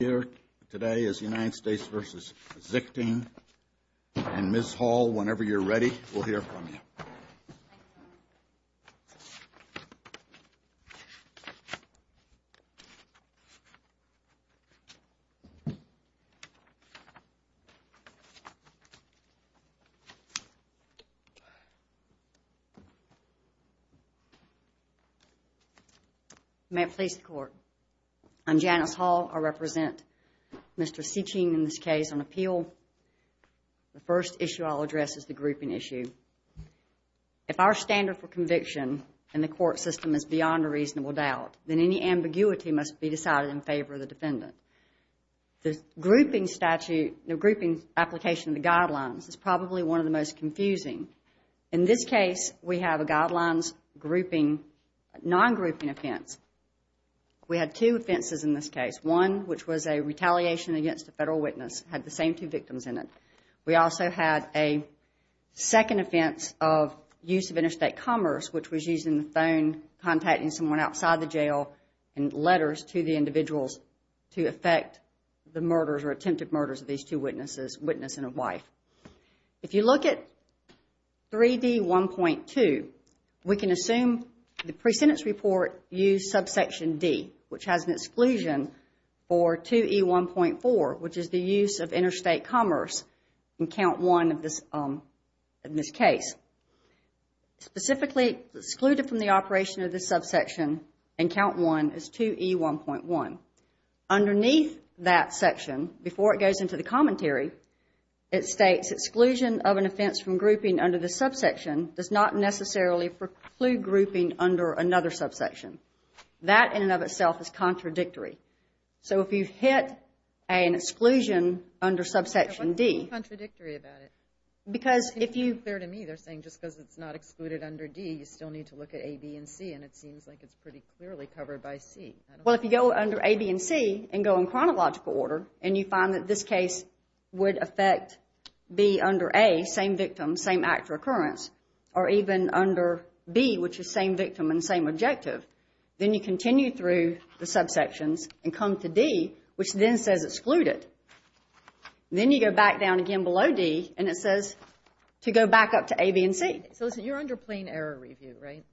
here today is United States v. Sichting. And Ms. Hall, whenever you're ready, we'll hear from you. May it please the Court. I'm Janice Hall. I represent Mr. Sichting in this case on appeal. The first issue I'll address is the grouping issue. If our standard for conviction in the court system is beyond a reasonable doubt, then any ambiguity must be decided in favor of the defendant. The grouping statute, the grouping application of the guidelines is probably one of the most confusing. In this case, we have a guidelines grouping, non-grouping offense. We had two offenses in this case. One, which was a retaliation against a federal witness, had the same two victims in it. We also had a second offense of use of interstate commerce, which was using the phone, contacting someone outside the jail in letters to the individuals to affect the murders or attempted murders of these two witnesses, witness and a wife. If you look at 3D1.2, we can assume the pre-sentence report used subsection D, which has an exclusion for 2E1.4, which is the use of interstate commerce in count one of this case. Specifically excluded from the operation of this subsection in count one is 2E1.1. Underneath that section, before it goes into the commentary, it states exclusion of an offense from grouping under the subsection does not necessarily preclude grouping under another subsection. That in and of itself is contradictory. So if you hit an exclusion under subsection D. Why is it contradictory about it? To be clear to me, they're saying just because it's not excluded under D, you still need to look at A, B, and C, and it seems like it's pretty clearly covered by C. Well, if you go under A, B, and C and go in chronological order and you find that this case would affect B under A, same victim, same act or occurrence, or even under B, which is same victim and same objective, then you continue through the subsections and come to D, which then says excluded. Then you go back down again below D, and it says to go back up to A, B, and C. So listen, you're under plain error review, right?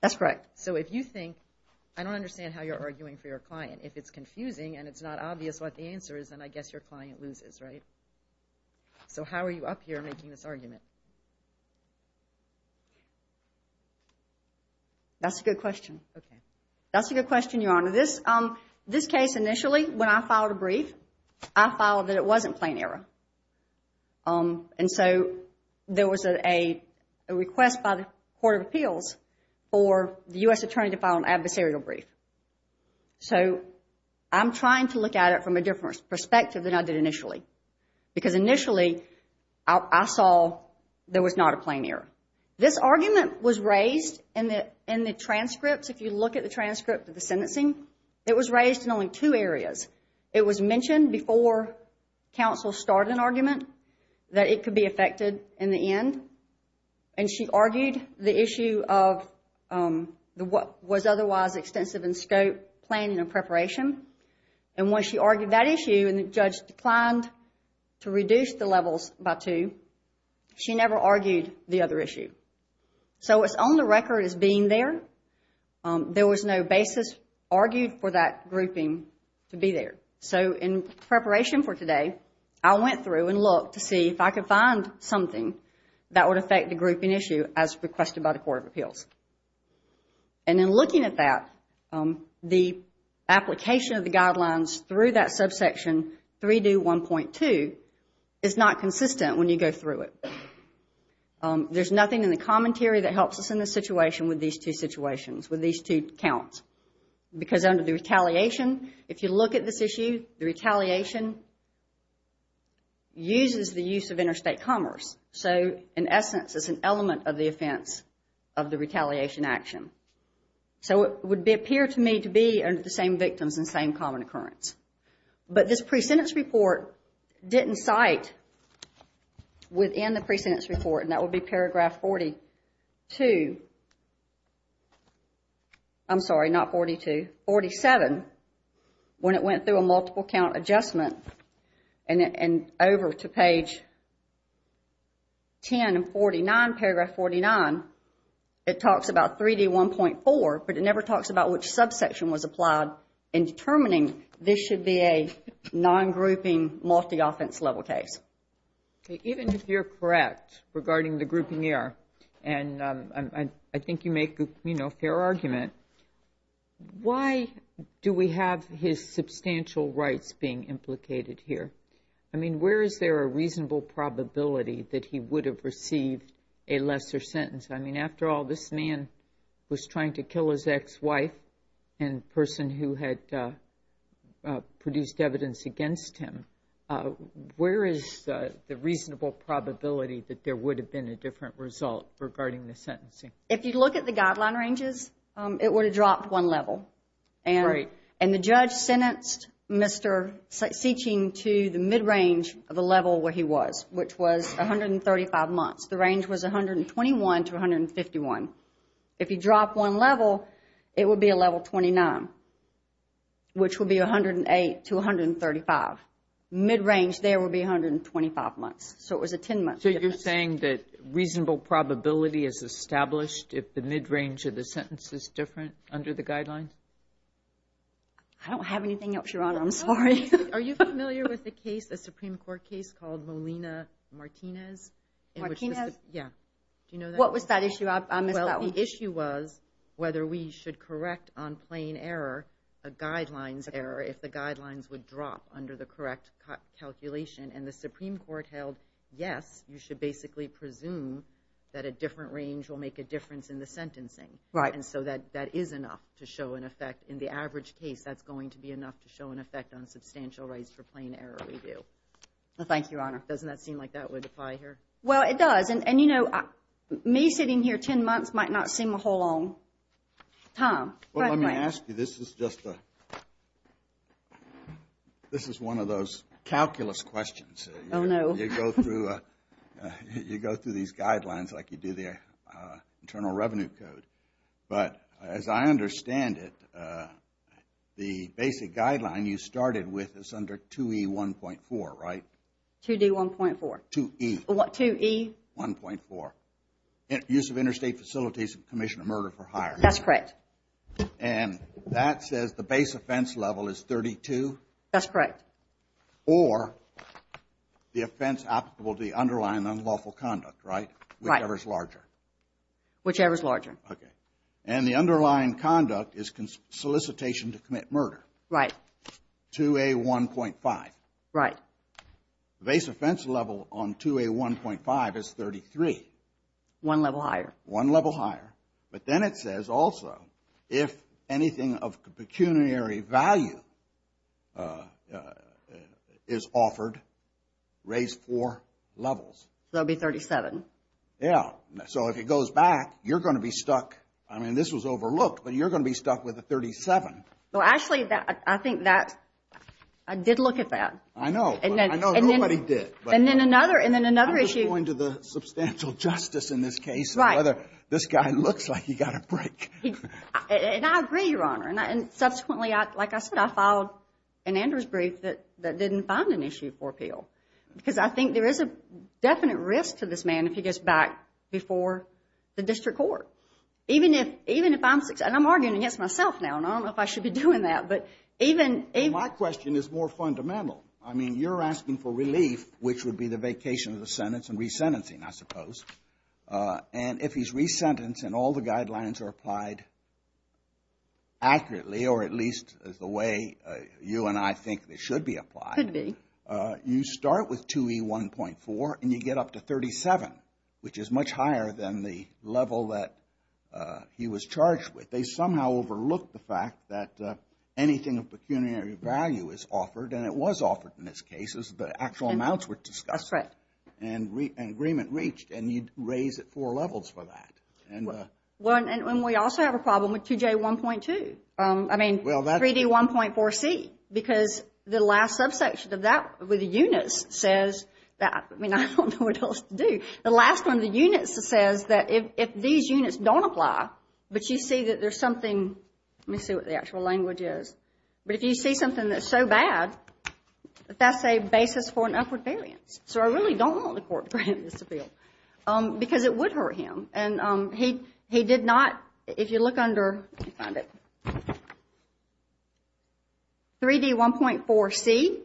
That's correct. So if you think, I don't understand how you're arguing for your client. If it's confusing and it's not obvious what the answer is, then I guess your client loses, right? So how are you up here making this argument? That's a good question. Okay. That's a good question, Your Honor. This case initially, when I filed a brief, I filed that it wasn't plain error. And so there was a request by the Court of Appeals for the U.S. attorney to file an adversarial brief. So I'm trying to look at it from a different perspective than I did initially because initially I saw there was not a plain error. This argument was raised in the transcripts. If you look at the transcript of the sentencing, it was raised in only two areas. It was mentioned before counsel started an argument that it could be affected in the end. And she argued the issue of what was otherwise extensive in scope, planning, and preparation. And when she argued that issue and the judge declined to reduce the levels by two, she never argued the other issue. So what's on the record is being there. There was no basis argued for that grouping to be there. So in preparation for today, I went through and looked to see if I could find something that would affect the grouping issue as requested by the Court of Appeals. And in looking at that, the application of the guidelines through that subsection, 3-1.2, is not consistent when you go through it. There's nothing in the commentary that helps us in this situation with these two situations, with these two counts. Because under the retaliation, if you look at this issue, the retaliation uses the use of interstate commerce. So in essence, it's an element of the offense of the retaliation action. So it would appear to me to be under the same victims and same common occurrence. But this pre-sentence report didn't cite within the pre-sentence report, and that would be paragraph 42, I'm sorry, not 42, 47, when it went through a multiple count adjustment and over to page 10 and 49, paragraph 49, it talks about 3D1.4, but it never talks about which subsection was applied in determining this should be a non-grouping multi-offense level case. Even if you're correct regarding the grouping error, and I think you make a fair argument, why do we have his substantial rights being implicated here? I mean, where is there a reasonable probability that he would have received a lesser sentence? I mean, after all, this man was trying to kill his ex-wife and person who had produced evidence against him. Where is the reasonable probability that there would have been a different result regarding the sentencing? If you look at the guideline ranges, it would have dropped one level. And the judge sentenced Mr. Seeching to the mid-range of the level where he was, which was 135 months. The range was 121 to 151. If you drop one level, it would be a level 29, which would be 108 to 135. Mid-range there would be 125 months. So it was a 10-month difference. So you're saying that reasonable probability is established if the mid-range of the sentence is different under the guidelines? I don't have anything else, Your Honor. I'm sorry. Are you familiar with the case, the Supreme Court case called Molina-Martinez? Martinez? Yeah. Do you know that? What was that issue? I missed that one. Well, the issue was whether we should correct on plain error a guidelines error if the guidelines would drop under the correct calculation. And the Supreme Court held, yes, you should basically presume that a different range will make a difference in the sentencing. Right. And so that is enough to show an effect. In the average case, that's going to be enough to show an effect on substantial rights for plain error review. Well, thank you, Your Honor. Doesn't that seem like that would apply here? Well, it does. And, you know, me sitting here 10 months might not seem a whole long time. Well, let me ask you, this is just a, this is one of those calculus questions. Oh, no. You go through these guidelines like you do the Internal Revenue Code. But as I understand it, the basic guideline you started with is under 2E1.4, right? 2D1.4. 2E. What, 2E? 1.4. Use of interstate facilities to commission a murder for hire. That's correct. And that says the base offense level is 32? That's correct. Or the offense applicable to the underlying unlawful conduct, right? Right. Whichever is larger. Whichever is larger. Okay. And the underlying conduct is solicitation to commit murder. Right. 2A1.5. Right. The base offense level on 2A1.5 is 33. One level higher. One level higher. But then it says also, if anything of pecuniary value is offered, raise four levels. That would be 37. Yeah. So, if it goes back, you're going to be stuck. I mean, this was overlooked, but you're going to be stuck with a 37. Well, actually, I think that, I did look at that. I know. I know. Nobody did. And then another issue. I was going to the substantial justice in this case. Right. I don't know whether this guy looks like he got a break. And I agree, Your Honor. And subsequently, like I said, I filed an Andrews brief that didn't find an issue for appeal. Because I think there is a definite risk to this man if he goes back before the district court. Even if I'm, and I'm arguing against myself now, and I don't know if I should be doing that. My question is more fundamental. I mean, you're asking for relief, which would be the vacation of the sentence and resentencing, I suppose. And if he's resentenced and all the guidelines are applied accurately, or at least the way you and I think they should be applied. Could be. You start with 2E1.4 and you get up to 37, which is much higher than the level that he was charged with. They somehow overlooked the fact that anything of pecuniary value is offered. And it was offered in this case. The actual amounts were discussed. That's right. And agreement reached. And you'd raise it four levels for that. And we also have a problem with 2J1.2. I mean, 3D1.4C. Because the last subsection of that with the units says that, I mean, I don't know what else to do. The last one of the units says that if these units don't apply, but you see that there's something. Let me see what the actual language is. But if you see something that's so bad, that's a basis for an upward variance. So I really don't want the court to grant this appeal because it would hurt him. And he did not, if you look under 3D1.4C,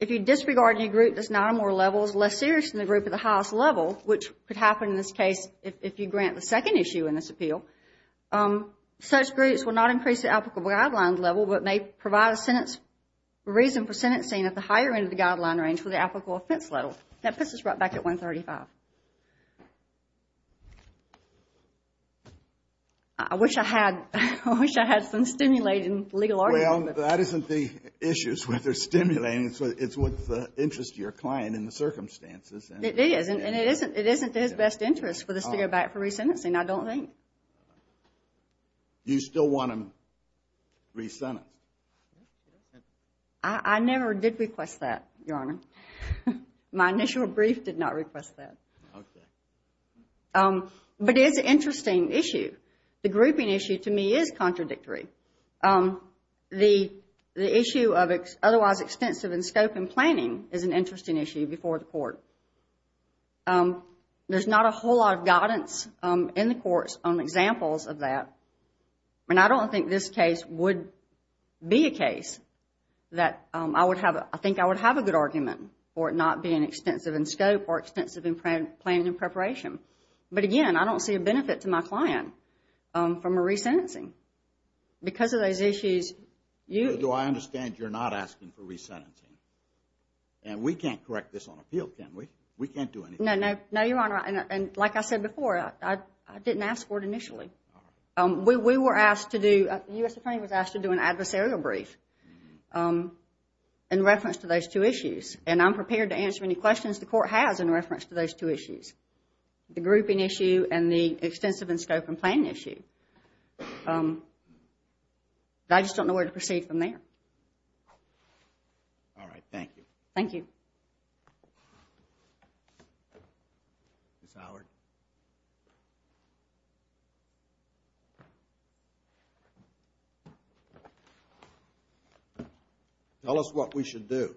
if you disregard any group that's not on more levels less serious than the group at the highest level, which could happen in this case if you grant the second issue in this appeal, such groups will not increase the applicable guidelines level, but may provide a reason for sentencing at the higher end of the guideline range for the applicable offense level. That puts us right back at 135. I wish I had some stimulating legal argument. Well, that isn't the issues where they're stimulating. It's what's of interest to your client in the circumstances. It is. And it isn't to his best interest for this to go back for resentencing, I don't think. You still want him resentenced? I never did request that, Your Honor. My initial brief did not request that. Okay. But it is an interesting issue. The grouping issue to me is contradictory. The issue of otherwise extensive in scope and planning is an interesting issue before the court. There's not a whole lot of guidance in the courts on examples of that, and I don't think this case would be a case that I think I would have a good argument for it not being extensive in scope or extensive in planning and preparation. But, again, I don't see a benefit to my client from a resentencing. Because of those issues, you... Do I understand you're not asking for resentencing? And we can't correct this on appeal, can we? We can't do anything. No, Your Honor. And like I said before, I didn't ask for it initially. We were asked to do... The U.S. Attorney was asked to do an adversarial brief in reference to those two issues. And I'm prepared to answer any questions the court has in reference to those two issues, the grouping issue and the extensive in scope and planning issue. I just don't know where to proceed from there. All right. Thank you. Thank you. Ms. Howard? Tell us what we should do.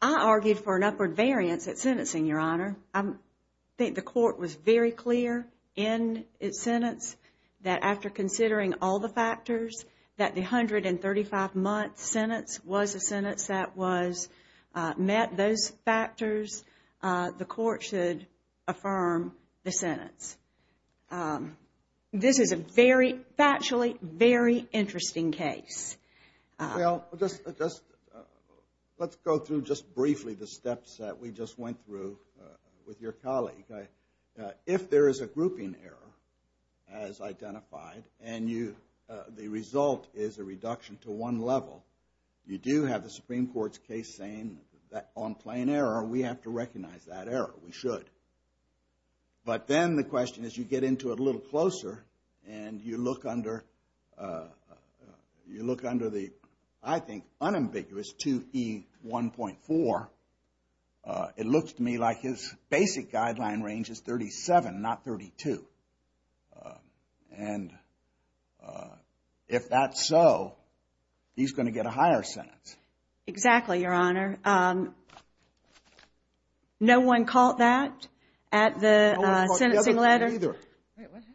I argued for an upward variance at sentencing, Your Honor. I think the court was very clear in its sentence that after considering all the factors, that the 135-month sentence was a sentence that met those factors, the court should affirm the sentence. This is a very factually very interesting case. Well, let's go through just briefly the steps that we just went through with your colleague. If there is a grouping error as identified and the result is a reduction to one level, you do have the Supreme Court's case saying that on plain error we have to recognize that error. We should. But then the question is you get into it a little closer and you look under the, I think, unambiguous 2E1.4. It looks to me like his basic guideline range is 37, not 32. And if that's so, he's going to get a higher sentence. Exactly, Your Honor. No one caught that at the sentencing letter? No one caught the other two either. Wait, what happened?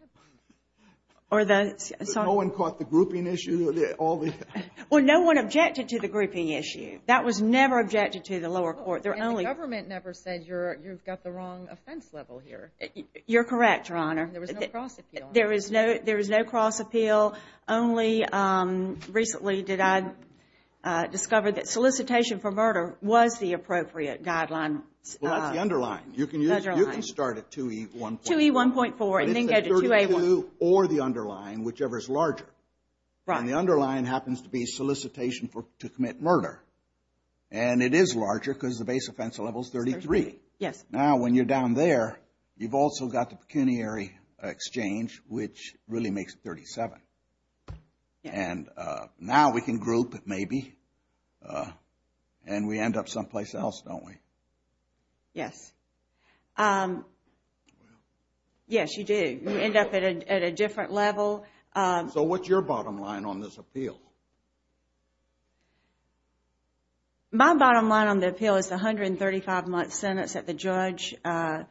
Or the, sorry? No one caught the grouping issue? Well, no one objected to the grouping issue. That was never objected to in the lower court. And the government never said you've got the wrong offense level here. You're correct, Your Honor. There was no cross appeal. There is no cross appeal. Only recently did I discover that solicitation for murder was the appropriate guideline. Well, that's the underline. You can start at 2E1.4. 2E1.4 and then go to 2A1. Or the underline, whichever is larger. And the underline happens to be solicitation to commit murder. And it is larger because the base offense level is 33. Yes. Now, when you're down there, you've also got the pecuniary exchange, which really makes it 37. And now we can group, maybe, and we end up someplace else, don't we? Yes. Yes, you do. You end up at a different level. So what's your bottom line on this appeal? My bottom line on the appeal is the 135-month sentence that the judge stated.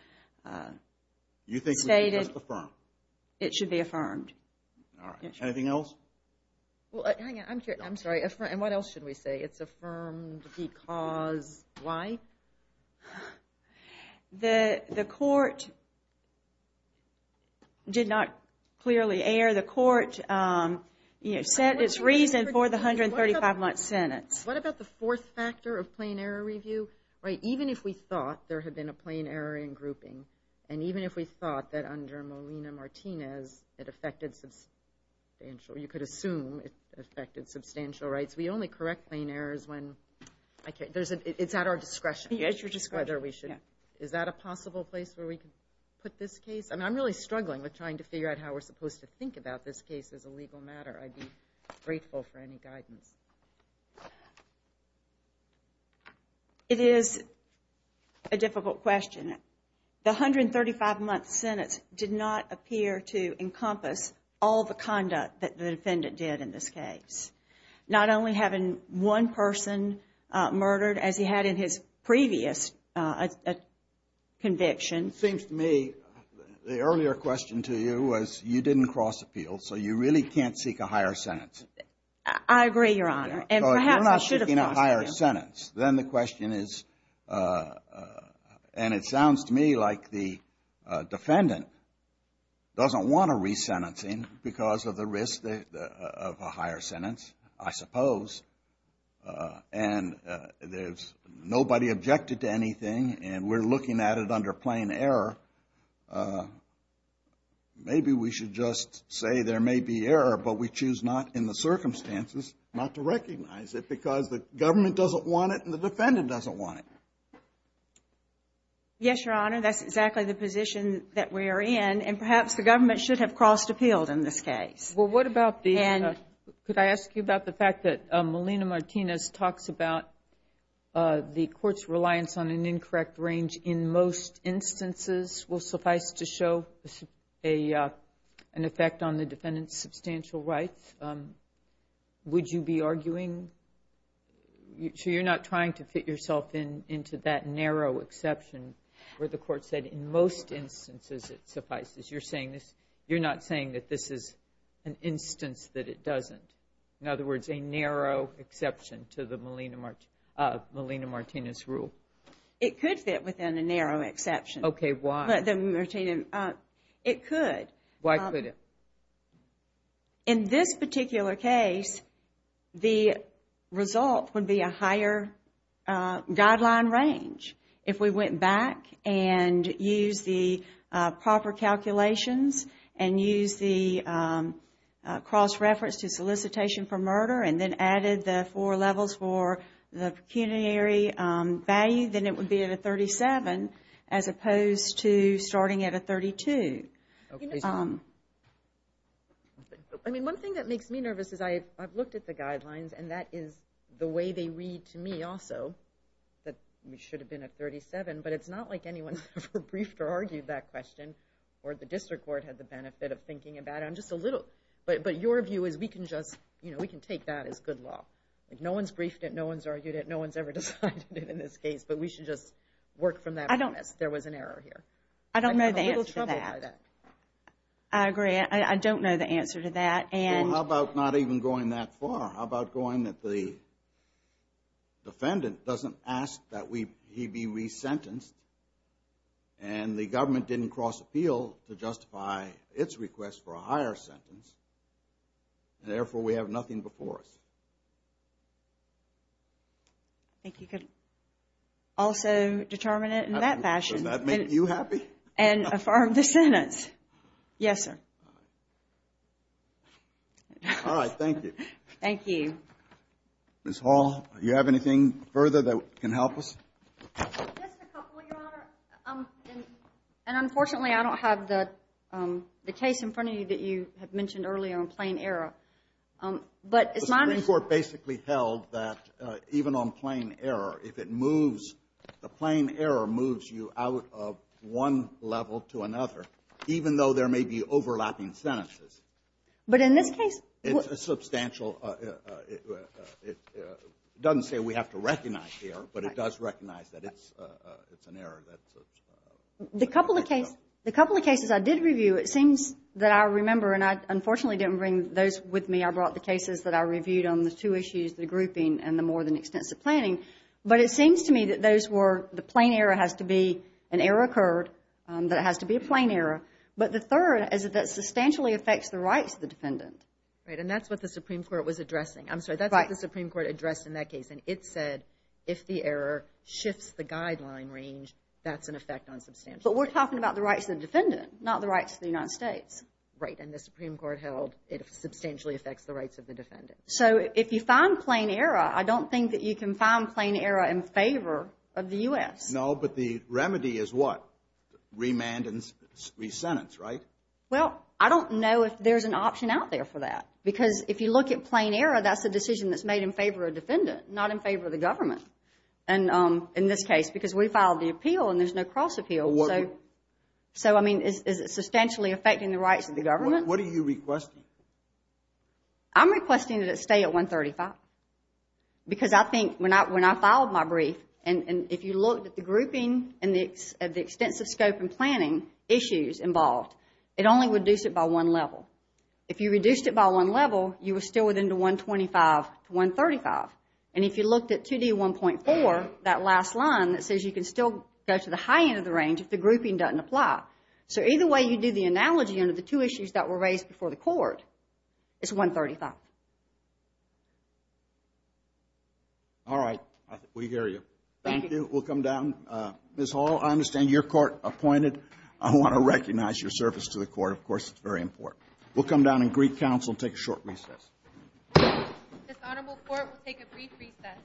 You think it should be just affirmed? It should be affirmed. All right. Anything else? Well, hang on. I'm sorry. And what else should we say? It's affirmed because why? The court did not clearly err. The court set its reason for the 135-month sentence. What about the fourth factor of plain error review? Even if we thought there had been a plain error in grouping, and even if we thought that under Molina-Martinez it affected substantial rights, we only correct plain errors when it's at our discretion. Yes, your discretion. Is that a possible place where we could put this case? I'm really struggling with trying to figure out how we're supposed to think about this case as a legal matter. I'd be grateful for any guidance. It is a difficult question. The 135-month sentence did not appear to encompass all the conduct that the defendant did in this case, not only having one person murdered as he had in his previous conviction. It seems to me the earlier question to you was you didn't cross appeal, so you really can't seek a higher sentence. I agree, your Honor. And perhaps I should have crossed appeal. So you're not seeking a higher sentence. Then the question is, and it sounds to me like the defendant doesn't want a resentencing because of the risk of a higher sentence, I suppose. And nobody objected to anything, and we're looking at it under plain error. Maybe we should just say there may be error, but we choose not in the circumstances not to recognize it because the government doesn't want it and the defendant doesn't want it. Yes, your Honor, that's exactly the position that we are in, and perhaps the government should have crossed appealed in this case. Well, what about the end? Could I ask you about the fact that Melina Martinez talks about the court's reliance on an incorrect range in most instances will suffice to show an effect on the defendant's substantial rights? Would you be arguing? So you're not trying to fit yourself into that narrow exception where the court said in most instances it suffices. You're not saying that this is an instance that it doesn't. In other words, a narrow exception to the Melina Martinez rule. It could fit within a narrow exception. Okay, why? It could. Why could it? In this particular case, the result would be a higher guideline range. If we went back and used the proper calculations and used the cross-reference to solicitation for murder and then added the four levels for the pecuniary value, then it would be at a 37 as opposed to starting at a 32. I mean, one thing that makes me nervous is I've looked at the guidelines, and that is the way they read to me also that we should have been at 37, but it's not like anyone's ever briefed or argued that question or the district court had the benefit of thinking about it. But your view is we can take that as good law. No one's briefed it. No one's argued it. No one's ever decided it in this case, but we should just work from that premise. There was an error here. I don't know the answer to that. I agree. I don't know the answer to that. Well, how about not even going that far? How about going that the defendant doesn't ask that he be resentenced and the government didn't cross-appeal to justify its request for a higher sentence, and therefore we have nothing before us? I think you could also determine it in that fashion. Does that make you happy? Yes, sir. All right. Thank you. Thank you. Ms. Hall, do you have anything further that can help us? Just a couple, Your Honor. And unfortunately, I don't have the case in front of you that you had mentioned earlier on plain error. But it's my understanding. The Supreme Court basically held that even on plain error, if it moves, the plain error moves you out of one level to another, even though there may be overlapping sentences. But in this case? It's a substantial. It doesn't say we have to recognize the error, but it does recognize that it's an error. The couple of cases I did review, it seems that I remember, and I unfortunately didn't bring those with me. I brought the cases that I reviewed on the two issues, the grouping and the more than extensive planning. But it seems to me that those were the plain error has to be an error occurred, that it has to be a plain error. But the third is that it substantially affects the rights of the defendant. Right, and that's what the Supreme Court was addressing. I'm sorry, that's what the Supreme Court addressed in that case, and it said if the error shifts the guideline range, that's an effect on substantial. But we're talking about the rights of the defendant, not the rights of the United States. Right, and the Supreme Court held it substantially affects the rights of the defendant. So if you find plain error, I don't think that you can find plain error in favor of the U.S. No, but the remedy is what? Remand and re-sentence, right? Well, I don't know if there's an option out there for that, because if you look at plain error, that's a decision that's made in favor of the defendant, not in favor of the government, in this case, because we filed the appeal and there's no cross appeal. So, I mean, is it substantially affecting the rights of the government? What are you requesting? I'm requesting that it stay at 135, because I think when I filed my brief, and if you looked at the grouping and the extensive scope and planning issues involved, it only reduced it by one level. If you reduced it by one level, you were still within the 125 to 135. And if you looked at 2D1.4, that last line that says you can still go to the high end of the range if the grouping doesn't apply. So either way you do the analogy under the two issues that were raised before the court, it's 135. I'll stop. All right. We hear you. Thank you. We'll come down. Ms. Hall, I understand you're court appointed. I want to recognize your service to the court. Of course, it's very important. We'll come down and greet counsel and take a short recess. This honorable court will take a brief recess.